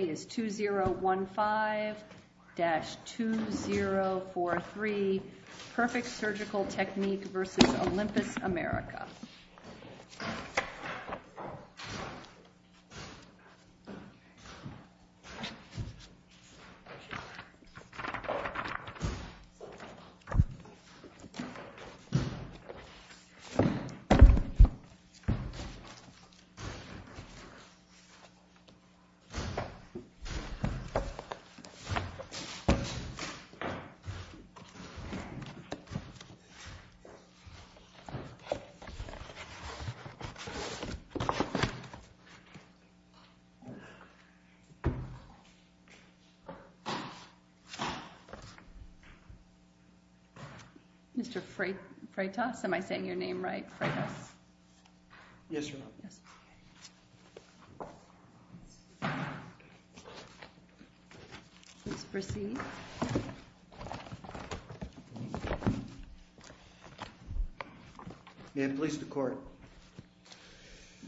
2015-2043 Perfect Surgical Techniques v. Olympus America Mr. Freitas, am I saying your name right? Freitas. Yes, Your Honor. Please proceed. May it please the Court.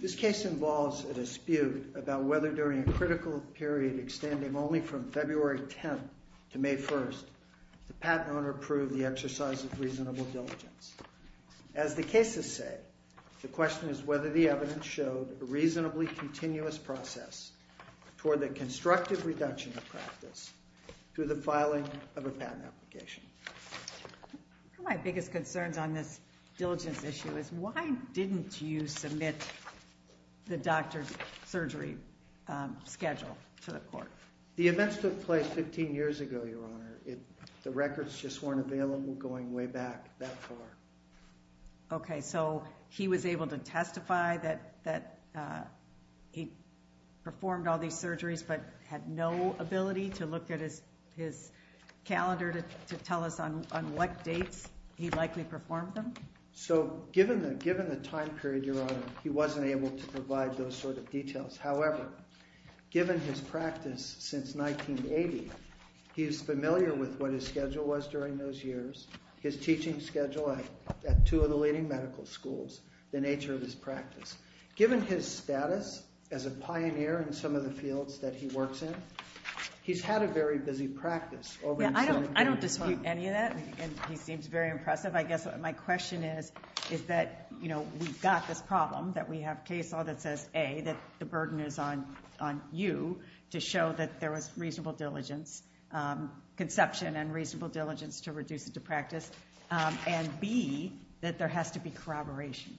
This case involves a dispute about whether during a critical period extending only from February 10th to May 1st, the patent owner approved the exercise of reasonable diligence. As the cases say, the question is whether the evidence showed a reasonably continuous process toward the constructive reduction of practice through the filing of a patent application. One of my biggest concerns on this diligence issue is why didn't you submit the doctor's surgery schedule to the Court? The events took place 15 years ago, Your Honor. The records just weren't available going way back that far. Okay, so he was able to testify that he performed all these surgeries but had no ability to look at his calendar to tell us on what dates he likely performed them? So, given the time period, Your Honor, he wasn't able to provide those sort of details. However, given his practice since 1980, he's familiar with what his schedule was during those years, his teaching schedule at two of the leading medical schools, the nature of his practice. Given his status as a pioneer in some of the fields that he works in, he's had a very busy practice. I don't dispute any of that. He seems very impressive. I guess my question is, is that, you know, we've got this problem that we have case law that says, A, that the burden is on you to show that there was reasonable diligence, conception and reasonable diligence to reduce it to practice, and B, that there has to be corroboration.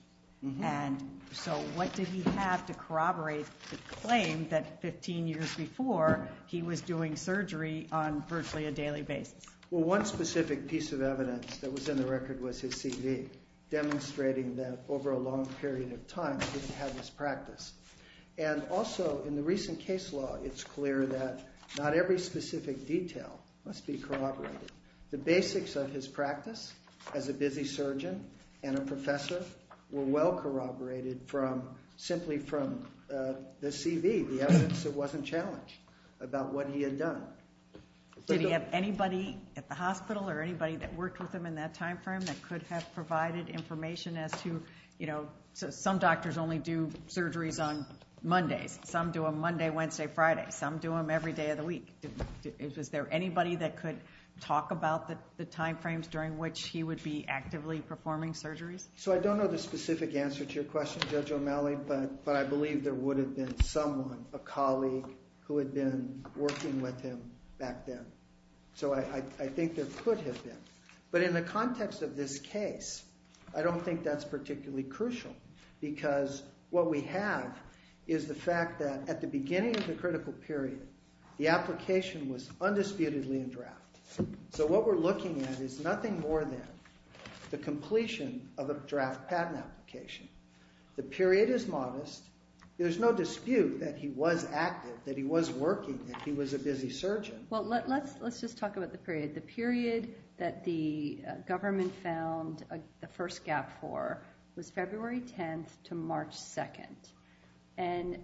And so what did he have to corroborate the claim that 15 years before, he was doing surgery on virtually a daily basis? Well, one specific piece of evidence that was in the record was his CV, demonstrating that over a long period of time he didn't have his practice. And also, in the recent case law, it's clear that not every specific detail must be corroborated. The basics of his practice as a busy surgeon and a professor were well corroborated from simply from the CV, the evidence that wasn't challenged about what he had done. Did he have anybody at the hospital or anybody that worked with him in that time frame that could have provided information as to, you know, some doctors only do surgeries on Mondays. Some do them Monday, Wednesday, Friday. Some do them every day of the week. Was there anybody that could talk about the time frames during which he would be actively performing surgeries? So I don't know the specific answer to your question, Judge O'Malley, but I believe there would have been someone, a colleague, who had been working with him back then. So I think there could have been. But in the context of this case, I don't think that's particularly crucial because what we have is the fact that at the beginning of the critical period, the application was undisputedly in draft. So what we're looking at is nothing more than the completion of a draft patent application. The period is modest. There's no dispute that he was active, that he was working, that he was a busy surgeon. Well, let's just talk about the period. The period that the government found the first gap for was February 10th to March 2nd. And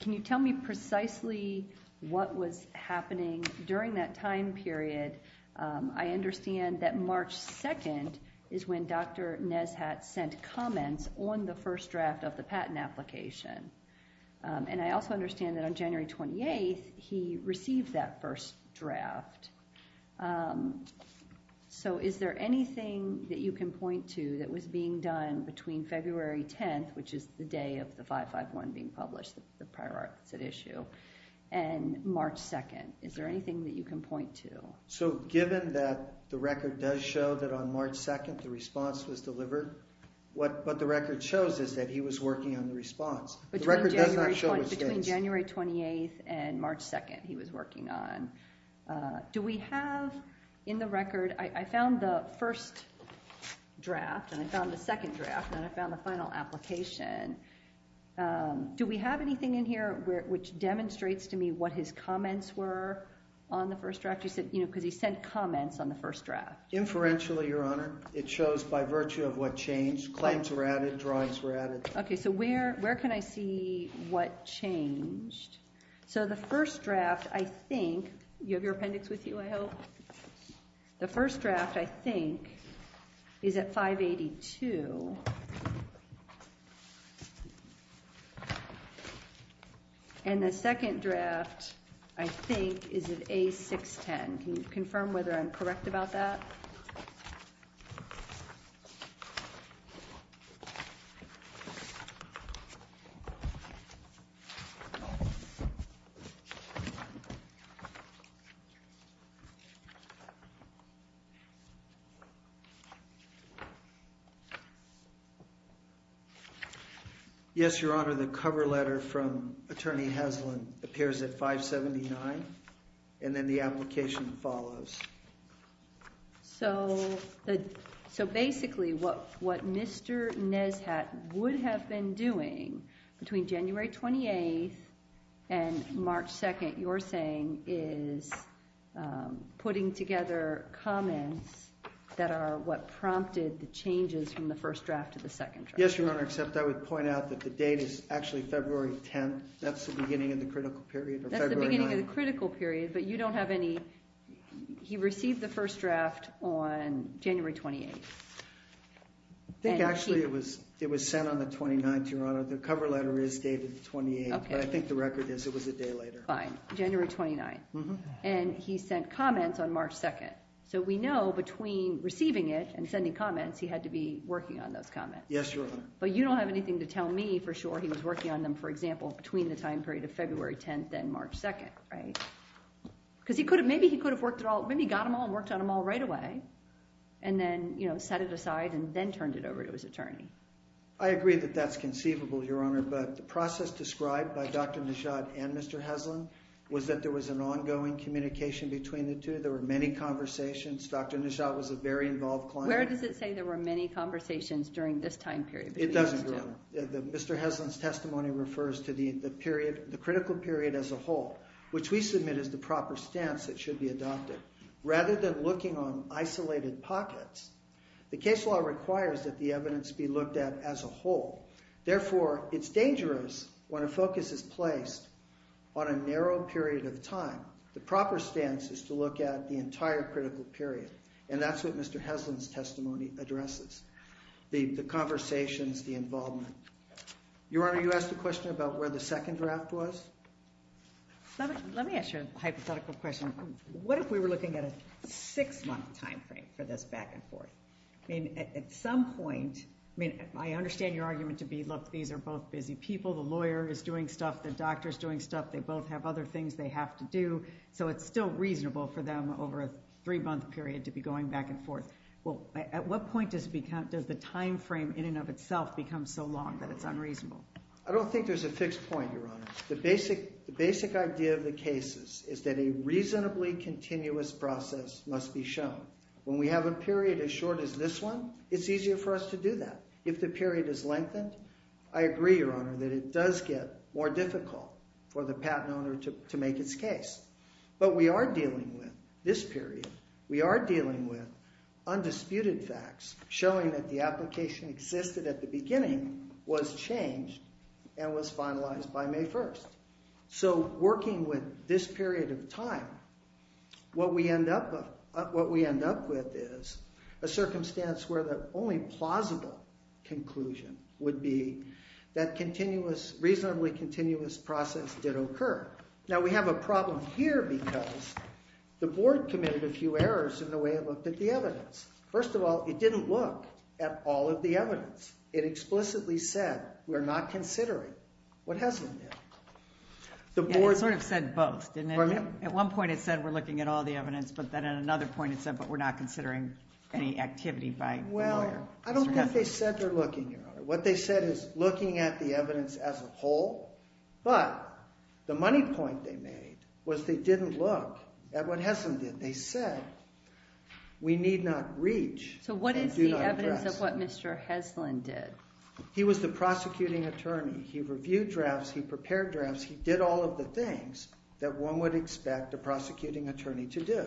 can you tell me precisely what was happening during that time period? I understand that March 2nd is when Dr. Neshat sent comments on the first draft of the patent application. And I also understand that on January 28th, he received that first draft. So is there anything that you can point to that was being done between February 10th, which is the day of the 551 being published, the prior art that's at issue, and March 2nd? Is there anything that you can point to? So given that the record does show that on March 2nd, the response was delivered, what the record shows is that he was working on the response. Between January 28th and March 2nd, he was working on. Do we have in the record, I found the first draft, and I found the second draft, and I found the final application. Do we have anything in here which demonstrates to me what his comments were on the first draft? Because he sent comments on the first draft. Inferentially, Your Honor, it shows by virtue of what changed. Claims were added. Drawings were added. OK, so where can I see what changed? So the first draft, I think, do you have your appendix with you, I hope? The first draft, I think, is at 582. And the second draft, I think, is at A610. Can you confirm whether I'm correct about that? Yes, Your Honor. The cover letter from Attorney Haslund appears at 579, and then the application follows. So basically, what Mr. Neshat would have been doing between January 28th and March 2nd, you're saying, is putting together comments that are what prompted the changes from the first draft to the second draft. Yes, Your Honor, except I would point out that the date is actually February 10th. That's the beginning of the critical period, or February 9th. But you don't have any, he received the first draft on January 28th. I think actually it was sent on the 29th, Your Honor. The cover letter is dated the 28th, but I think the record is it was a day later. Fine, January 29th. And he sent comments on March 2nd. So we know between receiving it and sending comments, he had to be working on those comments. Yes, Your Honor. But you don't have anything to tell me for sure he was working on them, for example, between the time period of February 10th and March 2nd, right? Because he could have, maybe he could have worked it all, maybe he got them all and worked on them all right away, and then, you know, set it aside and then turned it over to his attorney. I agree that that's conceivable, Your Honor, but the process described by Dr. Neshat and Mr. Haslund was that there was an ongoing communication between the two. There were many conversations. Dr. Neshat was a very involved client. Where does it say there were many conversations during this time period? It doesn't, Your Honor. Mr. Haslund's testimony refers to the period, the critical period as a whole, which we submit is the proper stance that should be adopted. Rather than looking on isolated pockets, the case law requires that the evidence be looked at as a whole. Therefore, it's dangerous when a focus is placed on a narrow period of time. The proper stance is to look at the entire critical period, and that's what Mr. Haslund's testimony addresses, the conversations, the involvement. Your Honor, you asked a question about where the second draft was? Let me ask you a hypothetical question. What if we were looking at a six-month time frame for this back and forth? I mean, at some point, I mean, I understand your argument to be, look, these are both busy people. The lawyer is doing stuff. The doctor is doing stuff. They both have other things they have to do, so it's still reasonable for them over a three-month period to be going back and forth. Well, at what point does the time frame in and of itself become so long that it's unreasonable? I don't think there's a fixed point, Your Honor. The basic idea of the cases is that a reasonably continuous process must be shown. When we have a period as short as this one, it's easier for us to do that. If the period is lengthened, I agree, Your Honor, that it does get more difficult for the patent owner to make its case. But we are dealing with this period. We are dealing with undisputed facts showing that the application existed at the beginning, was changed, and was finalized by May 1st. So working with this period of time, what we end up with is a circumstance where the only plausible conclusion would be that a reasonably continuous process did occur. Now, we have a problem here because the board committed a few errors in the way it looked at the evidence. First of all, it didn't look at all of the evidence. It explicitly said, we're not considering what Heslin did. It sort of said both, didn't it? At one point, it said, we're looking at all the evidence. But then at another point, it said, but we're not considering any activity by the lawyer. Well, I don't think they said they're looking, Your Honor. What they said is looking at the evidence as a whole. But the money point they made was they didn't look at what Heslin did. They said, we need not reach. So what is the evidence of what Mr. Heslin did? He was the prosecuting attorney. He reviewed drafts. He prepared drafts. He did all of the things that one would expect a prosecuting attorney to do.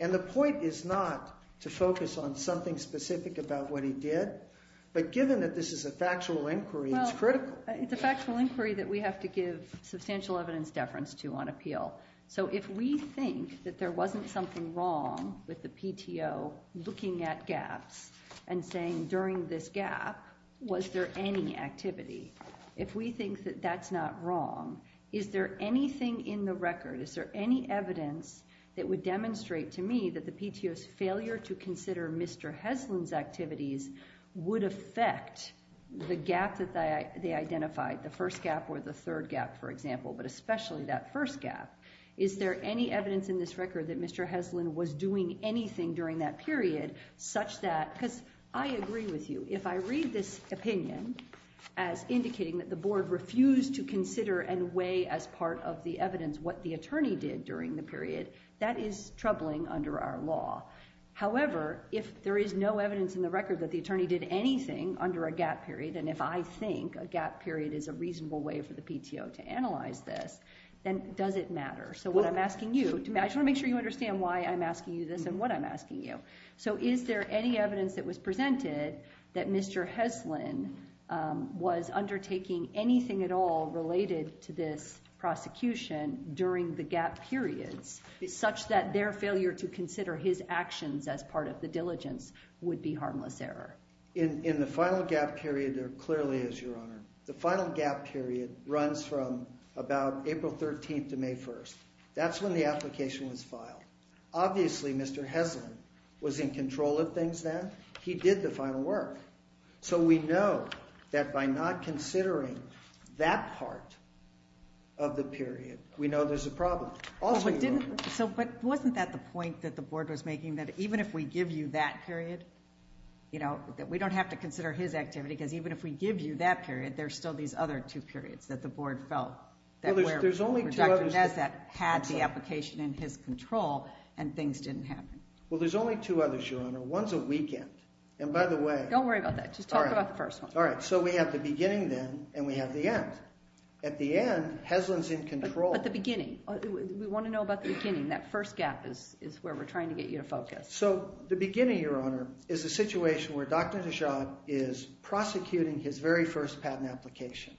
And the point is not to focus on something specific about what he did. But given that this is a factual inquiry, it's critical. It's a factual inquiry that we have to give substantial evidence deference to on appeal. So if we think that there wasn't something wrong with the PTO looking at gaps and saying, during this gap, was there any activity, if we think that that's not wrong, is there anything in the record, is there any evidence that would demonstrate to me that the PTO's failure to consider Mr. Heslin's activities would affect the gap that they identified, the first gap or the third gap, for example, but especially that first gap, is there any evidence in this record that Mr. Heslin was doing anything during that period such that, because I agree with you, if I read this opinion as indicating that the board refused to consider and weigh as part of the evidence what the attorney did during the period, that is troubling under our law. However, if there is no evidence in the record that the attorney did anything under a gap period, and if I think a gap period is a reasonable way for the PTO to analyze this, then does it matter? So what I'm asking you, I just want to make sure you understand why I'm asking you this and what I'm asking you, so is there any evidence that was presented that Mr. Heslin was undertaking anything at all related to this prosecution during the gap periods such that their failure to consider his actions as part of the diligence would be harmless error? In the final gap period, there clearly is, Your Honor. The final gap period runs from about April 13th to May 1st. That's when the application was filed. Obviously, Mr. Heslin was in control of things then. He did the final work. So we know that by not considering that part of the period, we know there's a problem. But wasn't that the point that the board was making, that even if we give you that period, we don't have to consider his activity because even if we give you that period, there's still these other two periods that the board felt where Dr. Nesbitt had the application in his control and things didn't happen. Well, there's only two others, Your Honor. One's a weekend, and by the way— Don't worry about that. Just talk about the first one. All right, so we have the beginning then and we have the end. At the end, Heslin's in control. But the beginning, we want to know about the beginning. That first gap is where we're trying to get you to focus. So the beginning, Your Honor, is a situation where Dr. Nesbitt is prosecuting his very first patent application.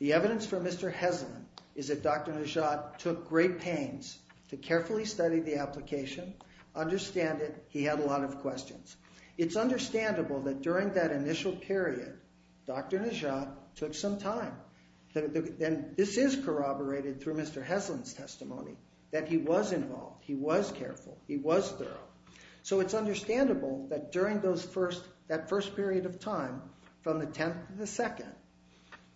The evidence for Mr. Heslin is that Dr. Nesbitt took great pains to carefully study the application, understand it, he had a lot of questions. It's understandable that during that initial period, Dr. Nesbitt took some time. This is corroborated through Mr. Heslin's testimony that he was involved, he was careful, he was thorough. So it's understandable that during that first period of time, from the 10th to the 2nd,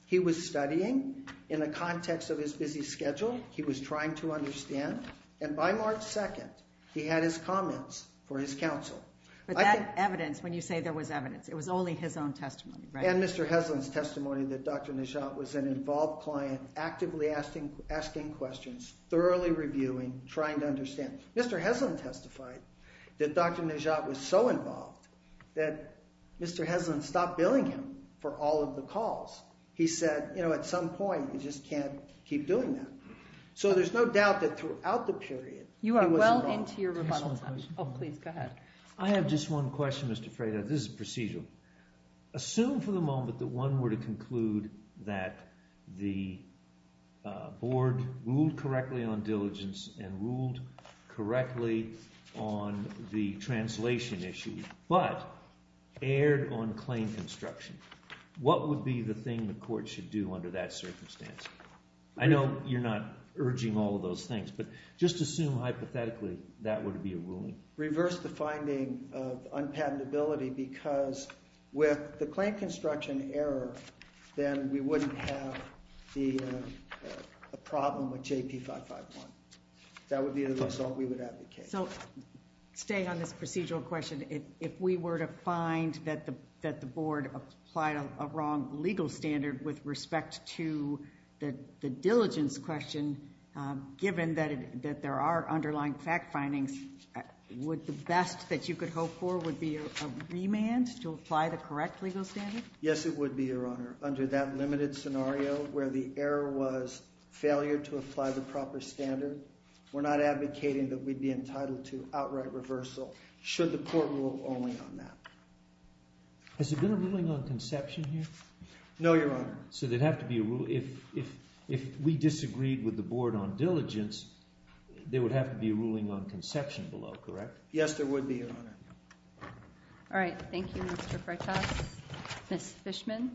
he was studying in the context of his busy schedule. He was trying to understand. And by March 2nd, he had his comments for his counsel. But that evidence, when you say there was evidence, it was only his own testimony, right? And Mr. Heslin's testimony that Dr. Nesbitt was an involved client, actively asking questions, thoroughly reviewing, trying to understand. Mr. Heslin testified that Dr. Nesbitt was so involved that Mr. Heslin stopped billing him for all of the calls. He said, you know, at some point, you just can't keep doing that. So there's no doubt that throughout the period, he was involved. You are well into your rebuttal time. Oh, please, go ahead. I have just one question, Mr. Freitas. This is procedural. Assume for the moment that one were to conclude that the board ruled correctly on diligence and ruled correctly on the translation issue but erred on claim construction. What would be the thing the court should do under that circumstance? I know you're not urging all of those things, but just assume hypothetically that would be a ruling. Reverse the finding of unpatentability because with the claim construction error, then we wouldn't have the problem with JP551. That would be the result we would advocate. So staying on this procedural question, if we were to find that the board applied a wrong legal standard with respect to the diligence question, given that there are underlying fact findings, would the best that you could hope for would be a remand to apply the correct legal standard? Yes, it would be, Your Honor. Under that limited scenario where the error was failure to apply the proper standard, we're not advocating that we'd be entitled to outright reversal should the court rule only on that. Has there been a ruling on conception here? No, Your Honor. If we disagreed with the board on diligence, there would have to be a ruling on conception below, correct? Yes, there would be, Your Honor. All right. Thank you, Mr. Freitas. Ms. Fishman?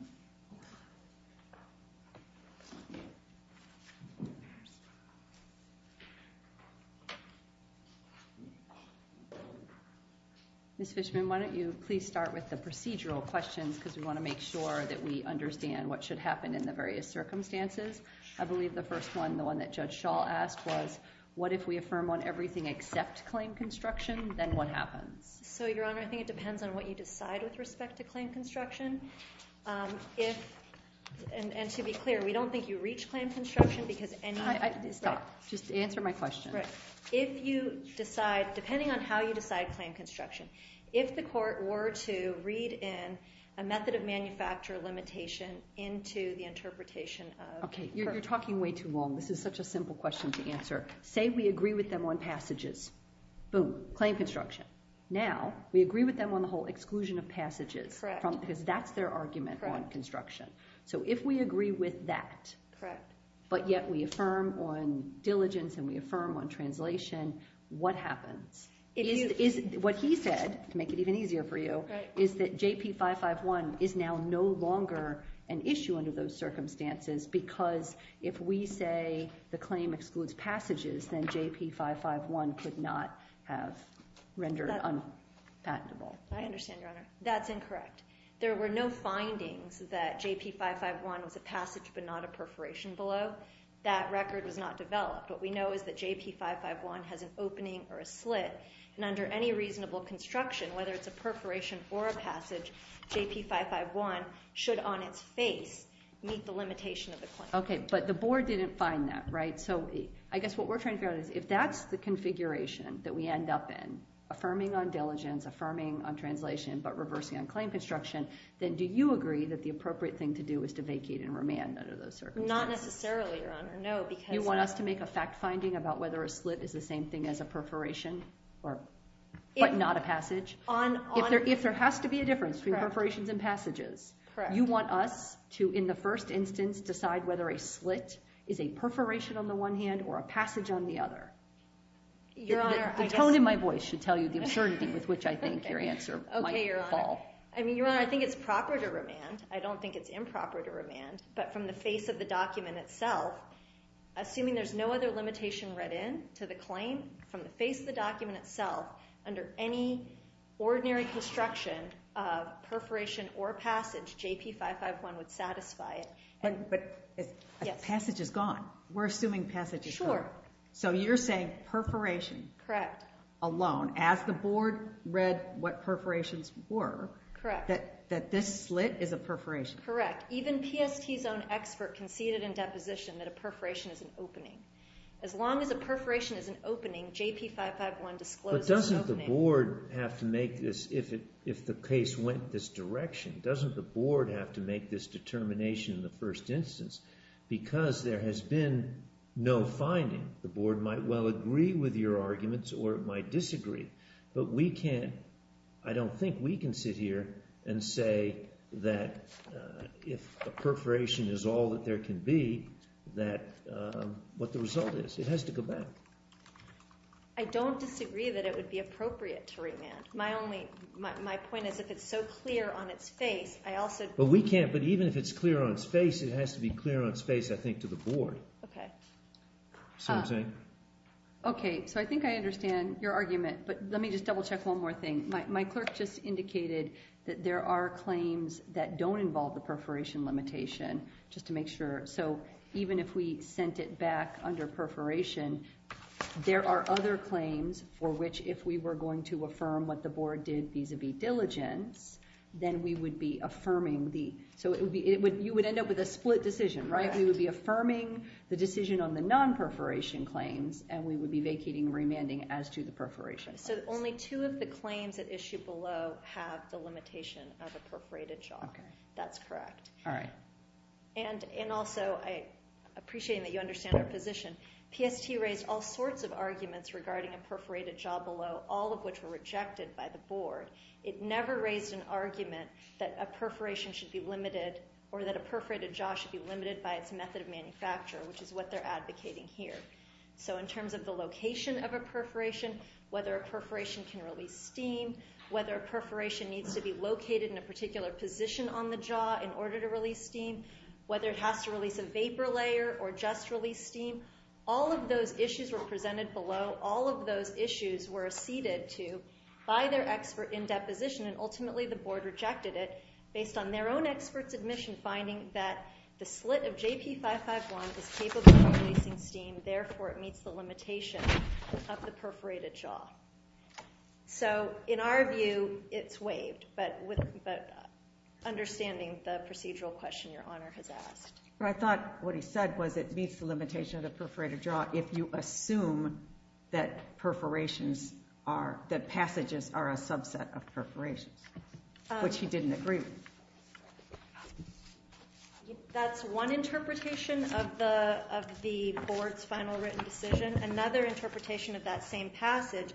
Ms. Fishman, why don't you please start with the procedural questions because we want to make sure that we understand what should happen in the various circumstances. I believe the first one, the one that Judge Schall asked, was what if we affirm on everything except claim construction? Then what happens? So, Your Honor, I think it depends on what you decide with respect to claim construction. And to be clear, we don't think you reach claim construction because any— Stop. Just answer my question. Right. If you decide, depending on how you decide claim construction, if the court were to read in a method of manufacture limitation into the interpretation of— Okay. You're talking way too long. This is such a simple question to answer. Say we agree with them on passages. Boom. Claim construction. Now, we agree with them on the whole exclusion of passages. Correct. Because that's their argument on construction. So if we agree with that, but yet we affirm on diligence and we affirm on translation, what happens? What he said, to make it even easier for you, is that JP551 is now no longer an issue under those circumstances because if we say the claim excludes passages, then JP551 could not have rendered unpatentable. I understand, Your Honor. That's incorrect. There were no findings that JP551 was a passage but not a perforation below. That record was not developed. What we know is that JP551 has an opening or a slit, and under any reasonable construction, whether it's a perforation or a passage, JP551 should on its face meet the limitation of the claim. Okay. But the board didn't find that, right? So I guess what we're trying to figure out is if that's the configuration that we end up in, affirming on diligence, affirming on translation, but reversing on claim construction, then do you agree that the appropriate thing to do is to vacate and remand under those circumstances? Not necessarily, Your Honor. No, because— If there's a fact-finding about whether a slit is the same thing as a perforation but not a passage, if there has to be a difference between perforations and passages, you want us to, in the first instance, decide whether a slit is a perforation on the one hand or a passage on the other. Your Honor, I guess— The tone in my voice should tell you the uncertainty with which I think your answer might fall. Okay, Your Honor. I mean, Your Honor, I think it's proper to remand. I don't think it's improper to remand, but from the face of the document itself, assuming there's no other limitation read into the claim, from the face of the document itself, under any ordinary construction of perforation or passage, J.P. 551 would satisfy it. But a passage is gone. We're assuming passage is gone. Sure. So you're saying perforation alone, as the board read what perforations were, that this slit is a perforation. Correct. Even PST's own expert conceded in deposition that a perforation is an opening. As long as a perforation is an opening, J.P. 551 disclosed it's an opening. But doesn't the board have to make this, if the case went this direction, doesn't the board have to make this determination in the first instance? Because there has been no finding. The board might well agree with your arguments or it might disagree. But we can't, I don't think we can sit here and say that if a perforation is all that there can be, that what the result is. It has to go back. I don't disagree that it would be appropriate to remand. My only, my point is if it's so clear on its face, I also But we can't, but even if it's clear on its face, it has to be clear on its face, I think, to the board. Okay. See what I'm saying? Okay, so I think I understand your argument. But let me just double check one more thing. My clerk just indicated that there are claims that don't involve the perforation limitation. Just to make sure. So even if we sent it back under perforation, there are other claims for which, if we were going to affirm what the board did vis-a-vis diligence, then we would be affirming the So you would end up with a split decision, right? We would be affirming the decision on the non-perforation claims, and we would be vacating remanding as to the perforation claims. So only two of the claims at issue below have the limitation of a perforated jaw. Okay. That's correct. All right. And also, appreciating that you understand our position, PST raised all sorts of arguments regarding a perforated jaw below, all of which were rejected by the board. It never raised an argument that a perforation should be limited, by its method of manufacture, which is what they're advocating here. So in terms of the location of a perforation, whether a perforation can release steam, whether a perforation needs to be located in a particular position on the jaw in order to release steam, whether it has to release a vapor layer or just release steam, all of those issues were presented below. All of those issues were acceded to by their expert in deposition, and ultimately the board rejected it based on their own expert's admission, finding that the slit of JP551 is capable of releasing steam, therefore it meets the limitation of the perforated jaw. So in our view, it's waived, but understanding the procedural question Your Honor has asked. I thought what he said was it meets the limitation of the perforated jaw if you assume that perforations are, that passages are a subset of perforations, which he didn't agree with. That's one interpretation of the board's final written decision. Another interpretation of that same passage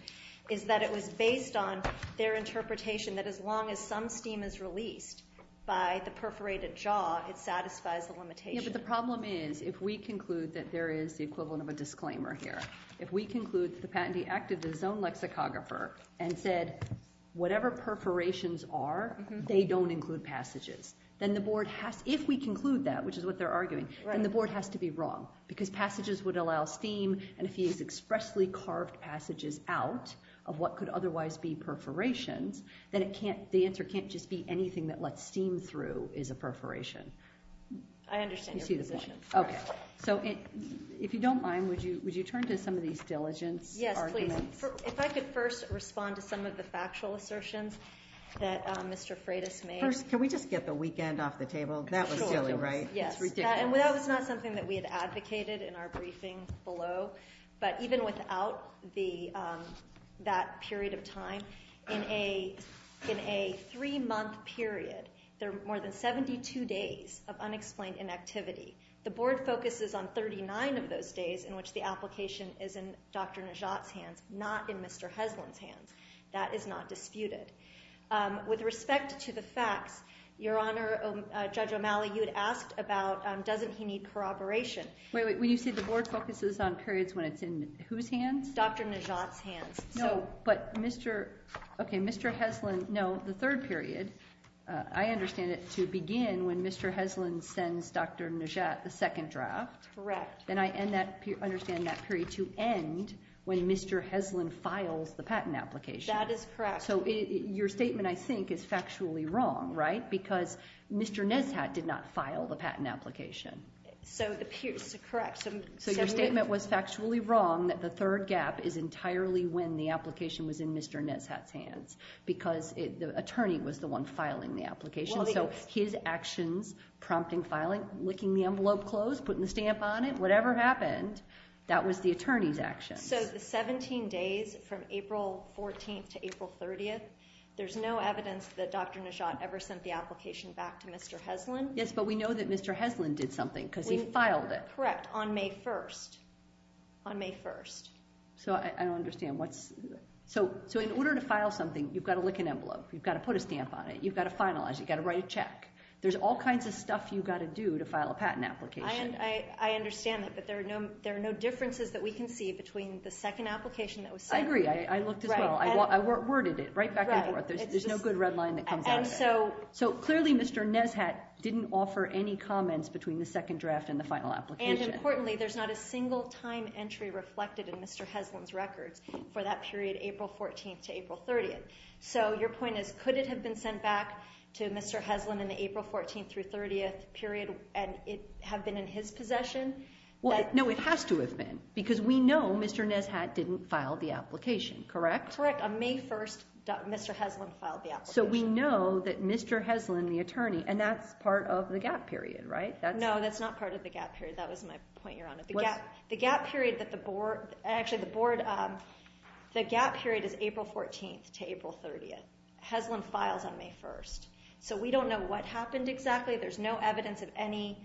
is that it was based on their interpretation that as long as some steam is released by the perforated jaw, it satisfies the limitation. Yeah, but the problem is if we conclude that there is the equivalent of a disclaimer here, if we conclude that the patentee acted as his own lexicographer and said whatever perforations are, they don't include passages, then the board has to, if we conclude that, which is what they're arguing, then the board has to be wrong because passages would allow steam, and if he has expressly carved passages out of what could otherwise be perforations, then the answer can't just be anything that lets steam through is a perforation. I understand your position. Okay, so if you don't mind, would you turn to some of these diligence arguments? If I could first respond to some of the factual assertions that Mr. Freitas made. First, can we just get the weekend off the table? That was silly, right? It's ridiculous. Yes, and that was not something that we had advocated in our briefing below, but even without that period of time, in a three-month period, there are more than 72 days of unexplained inactivity. The board focuses on 39 of those days in which the application is in Dr. Najat's hands, not in Mr. Heslin's hands. That is not disputed. With respect to the facts, Your Honor, Judge O'Malley, you had asked about doesn't he need corroboration. Wait, wait, wait. You said the board focuses on periods when it's in whose hands? Dr. Najat's hands. No, but Mr. Heslin, no, the third period, I understand it to begin when Mr. Heslin sends Dr. Najat the second draft. Correct. And I understand that period to end when Mr. Heslin files the patent application. That is correct. So your statement, I think, is factually wrong, right? Because Mr. Neshat did not file the patent application. So it appears to be correct. So your statement was factually wrong that the third gap is entirely when the application was in Mr. Neshat's hands because the attorney was the one filing the application. So his actions, prompting filing, licking the envelope closed, putting the stamp on it, whatever happened, that was the attorney's actions. So the 17 days from April 14th to April 30th, there's no evidence that Dr. Neshat ever sent the application back to Mr. Heslin. Yes, but we know that Mr. Heslin did something because he filed it. Correct, on May 1st, on May 1st. So I don't understand. So in order to file something, you've got to lick an envelope. You've got to put a stamp on it. You've got to finalize it. You've got to write a check. There's all kinds of stuff you've got to do to file a patent application. I understand that, but there are no differences that we can see between the second application that was sent. I agree. I looked as well. I worded it right back and forth. There's no good red line that comes out of it. So clearly Mr. Neshat didn't offer any comments between the second draft and the final application. And importantly, there's not a single time entry reflected in Mr. Heslin's records for that period April 14th to April 30th. So your point is could it have been sent back to Mr. Heslin in the April 14th through 30th period and it have been in his possession? No, it has to have been because we know Mr. Neshat didn't file the application, correct? Correct. On May 1st, Mr. Heslin filed the application. So we know that Mr. Heslin, the attorney, and that's part of the gap period, right? No, that's not part of the gap period. That was my point, Your Honor. The gap period that the board, actually the board, the gap period is April 14th to April 30th. Heslin files on May 1st. So we don't know what happened exactly. There's no evidence of any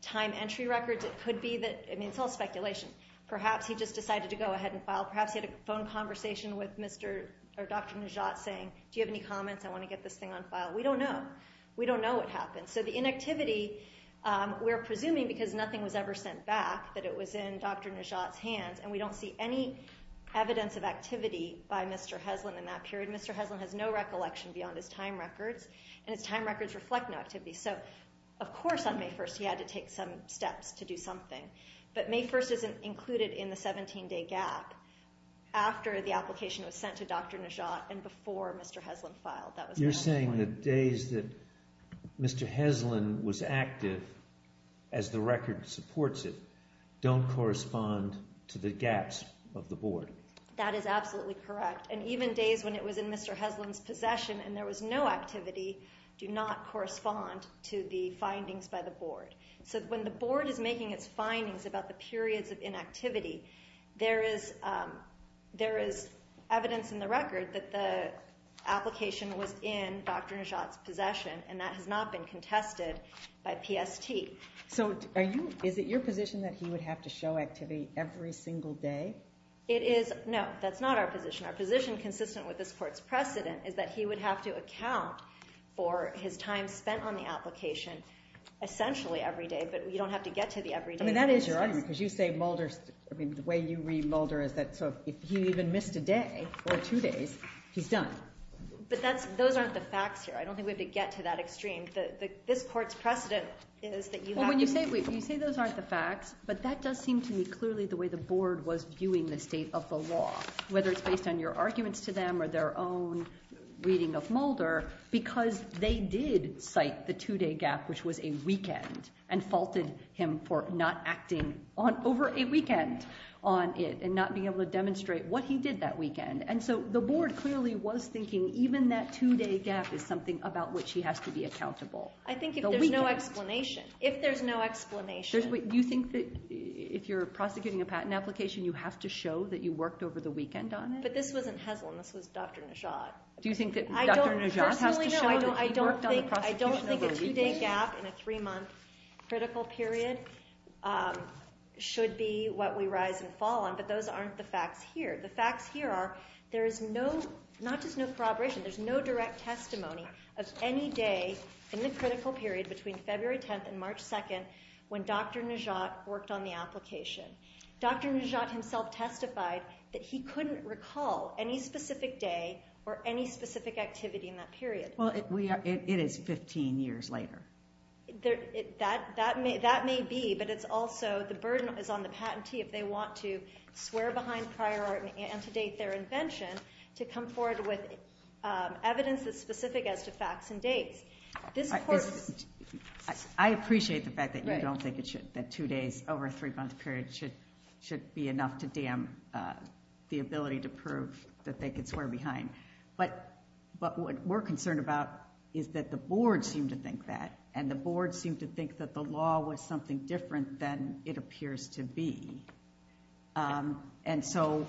time entry records. It could be that, I mean, it's all speculation. Perhaps he just decided to go ahead and file. Perhaps he had a phone conversation with Dr. Neshat saying, do you have any comments? I want to get this thing on file. We don't know. We don't know what happened. So the inactivity, we're presuming because nothing was ever sent back, that it was in Dr. Neshat's hands. And we don't see any evidence of activity by Mr. Heslin in that period. Mr. Heslin has no recollection beyond his time records. And his time records reflect no activity. So, of course, on May 1st he had to take some steps to do something. But May 1st isn't included in the 17-day gap after the application was sent to Dr. Neshat and before Mr. Heslin filed. You're saying the days that Mr. Heslin was active as the record supports it don't correspond to the gaps of the board? That is absolutely correct. And even days when it was in Mr. Heslin's possession and there was no activity do not correspond to the findings by the board. So when the board is making its findings about the periods of inactivity, there is evidence in the record that the application was in Dr. Neshat's possession. And that has not been contested by PST. So is it your position that he would have to show activity every single day? It is. No, that's not our position. Our position, consistent with this court's precedent, is that he would have to account for his time spent on the application essentially every day. But you don't have to get to the every day basis. I mean, that is your argument. Because you say Mulder's—I mean, the way you read Mulder is that if he even missed a day or two days, he's done. But those aren't the facts here. I don't think we have to get to that extreme. This court's precedent is that you have to— And your arguments to them are their own reading of Mulder because they did cite the two-day gap, which was a weekend, and faulted him for not acting over a weekend on it and not being able to demonstrate what he did that weekend. And so the board clearly was thinking even that two-day gap is something about which he has to be accountable. I think if there's no explanation, if there's no explanation— Do you think that if you're prosecuting a patent application, you have to show that you worked over the weekend on it? But this wasn't Heslin. This was Dr. Najat. Do you think that Dr. Najat has to show that he worked on the prosecution over a weekend? I don't think a two-day gap in a three-month critical period should be what we rise and fall on, but those aren't the facts here. The facts here are there is no—not just no corroboration. There's no direct testimony of any day in the critical period between February 10th and March 2nd when Dr. Najat worked on the application. Dr. Najat himself testified that he couldn't recall any specific day or any specific activity in that period. Well, it is 15 years later. That may be, but it's also—the burden is on the patentee if they want to swear behind prior art and to date their invention to come forward with evidence that's specific as to facts and dates. I appreciate the fact that you don't think it should—that two days over a three-month period should be enough to dam the ability to prove that they could swear behind. But what we're concerned about is that the board seemed to think that, and the board seemed to think that the law was something different than it appears to be. And so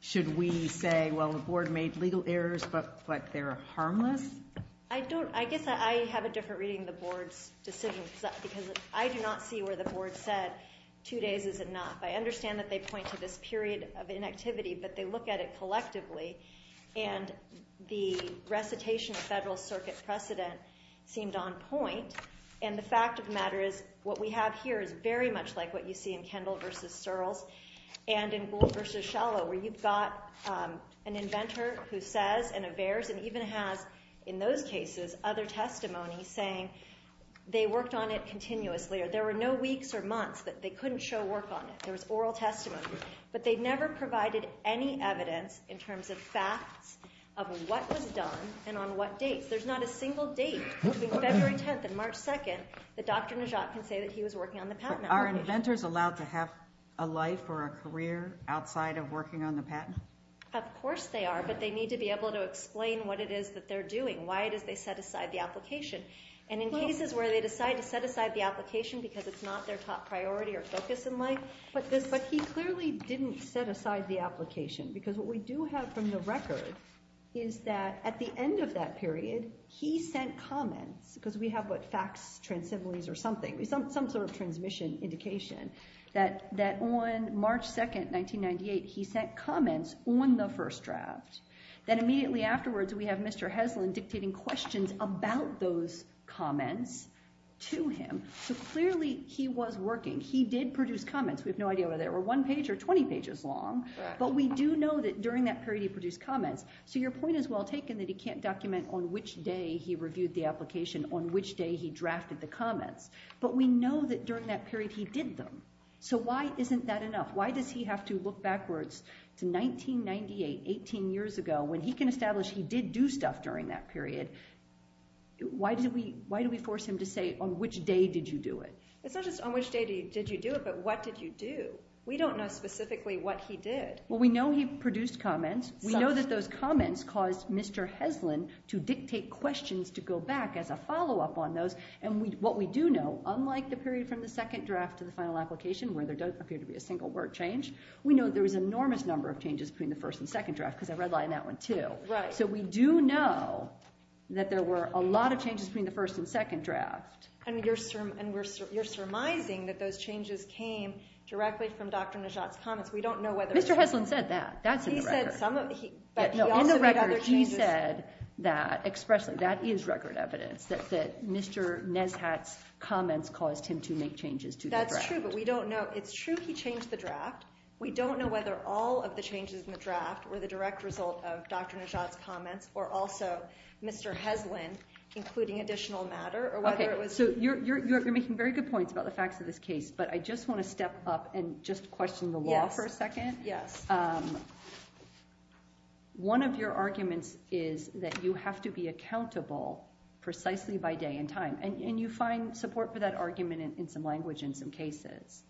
should we say, well, the board made legal errors, but they're harmless? I don't—I guess I have a different reading of the board's decision because I do not see where the board said two days is enough. I understand that they point to this period of inactivity, but they look at it collectively, and the recitation of federal circuit precedent seemed on point. And the fact of the matter is what we have here is very much like what you see in Kendall v. Searles and in Gould v. Shallow, where you've got an inventor who says and averts and even has, in those cases, other testimony saying they worked on it continuously. There were no weeks or months that they couldn't show work on it. There was oral testimony. But they never provided any evidence in terms of facts of what was done and on what dates. There's not a single date between February 10th and March 2nd that Dr. Najat can say that he was working on the patent application. Are inventors allowed to have a life or a career outside of working on the patent? Of course they are, but they need to be able to explain what it is that they're doing, why it is they set aside the application. And in cases where they decide to set aside the application because it's not their top priority or focus in life— But he clearly didn't set aside the application. Because what we do have from the record is that at the end of that period, he sent comments—because we have, what, facts, transsemblies, or something, some sort of transmission indication—that on March 2nd, 1998, he sent comments on the first draft. Then immediately afterwards, we have Mr. Heslin dictating questions about those comments to him. So clearly he was working. He did produce comments. We have no idea whether they were one page or 20 pages long, but we do know that during that period, he produced comments. So your point is well taken that he can't document on which day he reviewed the application, on which day he drafted the comments. But we know that during that period, he did them. So why isn't that enough? Why does he have to look backwards to 1998, 18 years ago, when he can establish he did do stuff during that period? Why do we force him to say, on which day did you do it? It's not just on which day did you do it, but what did you do? We don't know specifically what he did. Well, we know he produced comments. We know that those comments caused Mr. Heslin to dictate questions to go back as a follow-up on those. And what we do know, unlike the period from the second draft to the final application, where there does appear to be a single word change, we know there was an enormous number of changes between the first and second draft, because I read a lot in that one, too. Right. So we do know that there were a lot of changes between the first and second draft. And you're surmising that those changes came directly from Dr. Nejat's comments. We don't know whether it was— Mr. Heslin said that. That's in the record. He said some of the— No, in the record, he said that expressly. That is record evidence that Mr. Nejat's comments caused him to make changes to the draft. That's true, but we don't know. It's true he changed the draft. We don't know whether all of the changes in the draft were the direct result of Dr. Nejat's comments or also Mr. Heslin, including additional matter, or whether it was— Okay, so you're making very good points about the facts of this case, but I just want to step up and just question the law for a second. Yes. One of your arguments is that you have to be accountable precisely by day and time, and you find support for that argument in some language in some cases.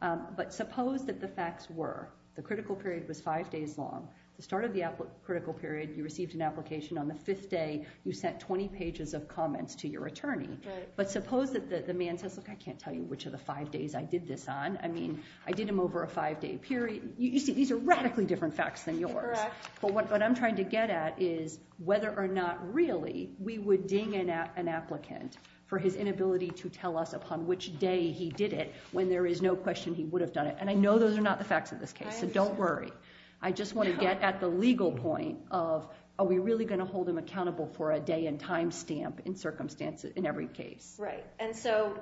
But suppose that the facts were the critical period was five days long. At the start of the critical period, you received an application. On the fifth day, you sent 20 pages of comments to your attorney. Right. But suppose that the man says, look, I can't tell you which of the five days I did this on. I mean, I did them over a five-day period. You see, these are radically different facts than yours. Correct. But what I'm trying to get at is whether or not really we would ding an applicant for his inability to tell us upon which day he did it when there is no question he would have done it. And I know those are not the facts of this case, so don't worry. I just want to get at the legal point of are we really going to hold him accountable for a day and time stamp in circumstances in every case? Right. And so,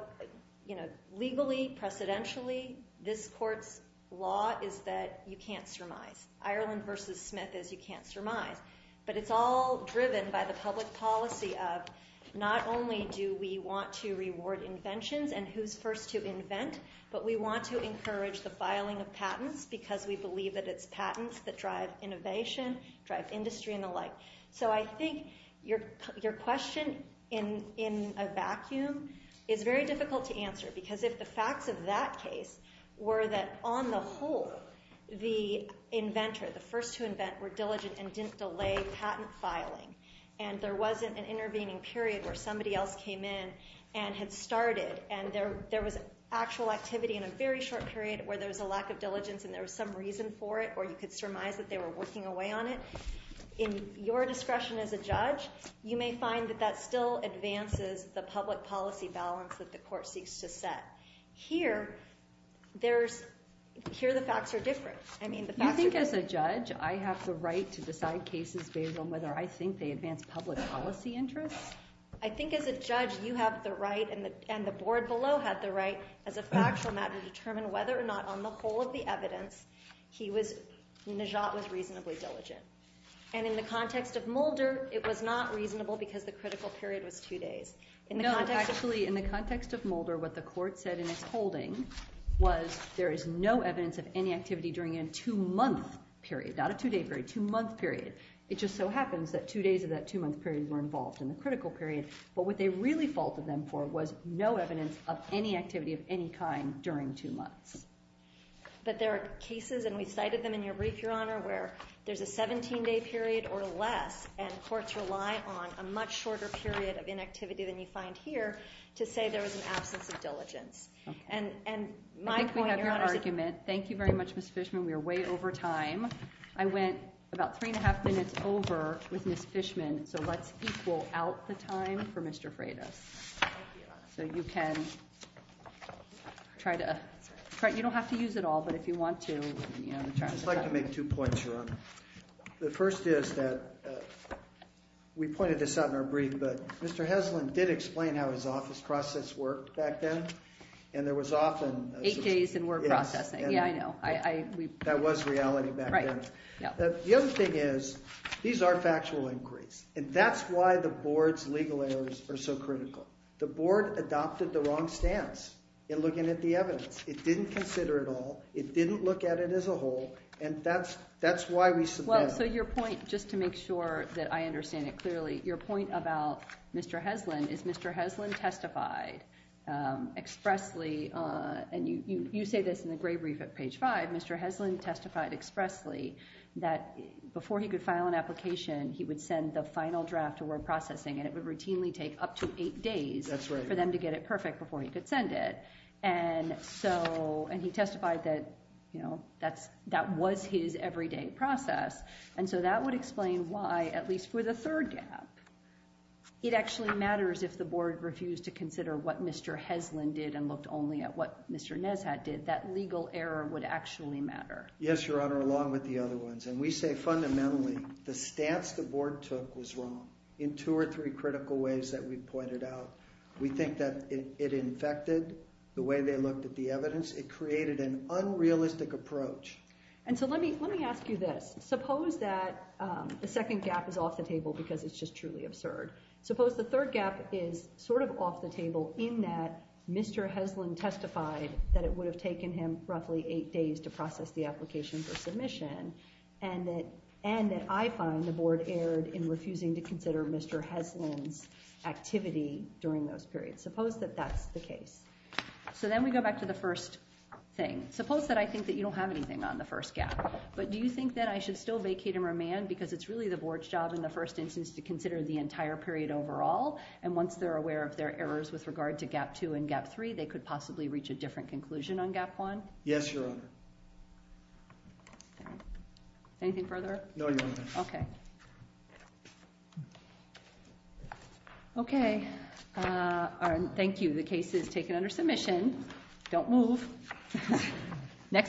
you know, legally, precedentially, this court's law is that you can't surmise. Ireland versus Smith is you can't surmise. But it's all driven by the public policy of not only do we want to reward inventions and who's first to invent, but we want to encourage the filing of patents because we believe that it's patents that drive innovation, drive industry, and the like. So I think your question in a vacuum is very difficult to answer because if the facts of that case were that, on the whole, the inventor, the first to invent, were diligent and didn't delay patent filing and there wasn't an intervening period where somebody else came in and had started and there was actual activity in a very short period where there was a lack of diligence and there was some reason for it or you could surmise that they were working away on it. In your discretion as a judge, you may find that that still advances the public policy balance that the court seeks to set. Here, the facts are different. I mean, the facts are different. You think as a judge I have the right to decide cases based on whether I think they advance public policy interests? I think as a judge, you have the right and the board below have the right as a factual matter to determine whether or not on the whole of the evidence, Najat was reasonably diligent. And in the context of Mulder, it was not reasonable because the critical period was two days. No, actually, in the context of Mulder, what the court said in its holding was there is no evidence of any activity during a two-month period, not a two-day period, two-month period. It just so happens that two days of that two-month period were involved in the critical period. But what they really faulted them for was no evidence of any activity of any kind during two months. But there are cases, and we cited them in your brief, Your Honor, where there's a 17-day period or less, and courts rely on a much shorter period of inactivity than you find here to say there was an absence of diligence. And my point, Your Honor— I think we have your argument. Thank you very much, Ms. Fishman. We are way over time. I went about three and a half minutes over with Ms. Fishman, so let's equal out the time for Mr. Freitas. Thank you. So you can try to—you don't have to use it all, but if you want to— I'd just like to make two points, Your Honor. The first is that—we pointed this out in our brief, but Mr. Heslin did explain how his office process worked back then, and there was often— Eight days in work processing. Yes. Yeah, I know. That was reality back then. Right. The other thing is these are factual inquiries, and that's why the board's legal errors are so critical. So the board adopted the wrong stance in looking at the evidence. It didn't consider it all. It didn't look at it as a whole, and that's why we submitted it. Well, so your point—just to make sure that I understand it clearly—your point about Mr. Heslin is Mr. Heslin testified expressly— and you say this in the gray brief at page five—Mr. Heslin testified expressly that before he could file an application, he would send the final draft to work processing, and it would routinely take up to eight days— That's right. —for them to get it perfect before he could send it. And so—and he testified that that was his everyday process, and so that would explain why, at least for the third gap, it actually matters if the board refused to consider what Mr. Heslin did and looked only at what Mr. Neshat did. That legal error would actually matter. Yes, Your Honor, along with the other ones. And we say fundamentally the stance the board took was wrong in two or three critical ways that we pointed out. We think that it infected the way they looked at the evidence. It created an unrealistic approach. And so let me ask you this. Suppose that the second gap is off the table because it's just truly absurd. Suppose the third gap is sort of off the table in that Mr. Heslin testified that it would have taken him roughly eight days to process the application for submission and that I find the board erred in refusing to consider Mr. Heslin's activity during those periods. Suppose that that's the case. So then we go back to the first thing. Suppose that I think that you don't have anything on the first gap, but do you think that I should still vacate and remand because it's really the board's job in the first instance to consider the entire period overall, and once they're aware of their errors with regard to gap two and gap three, they could possibly reach a different conclusion on gap one? Yes, Your Honor. Anything further? No, Your Honor. Okay. Okay. Thank you. Don't move. Next case.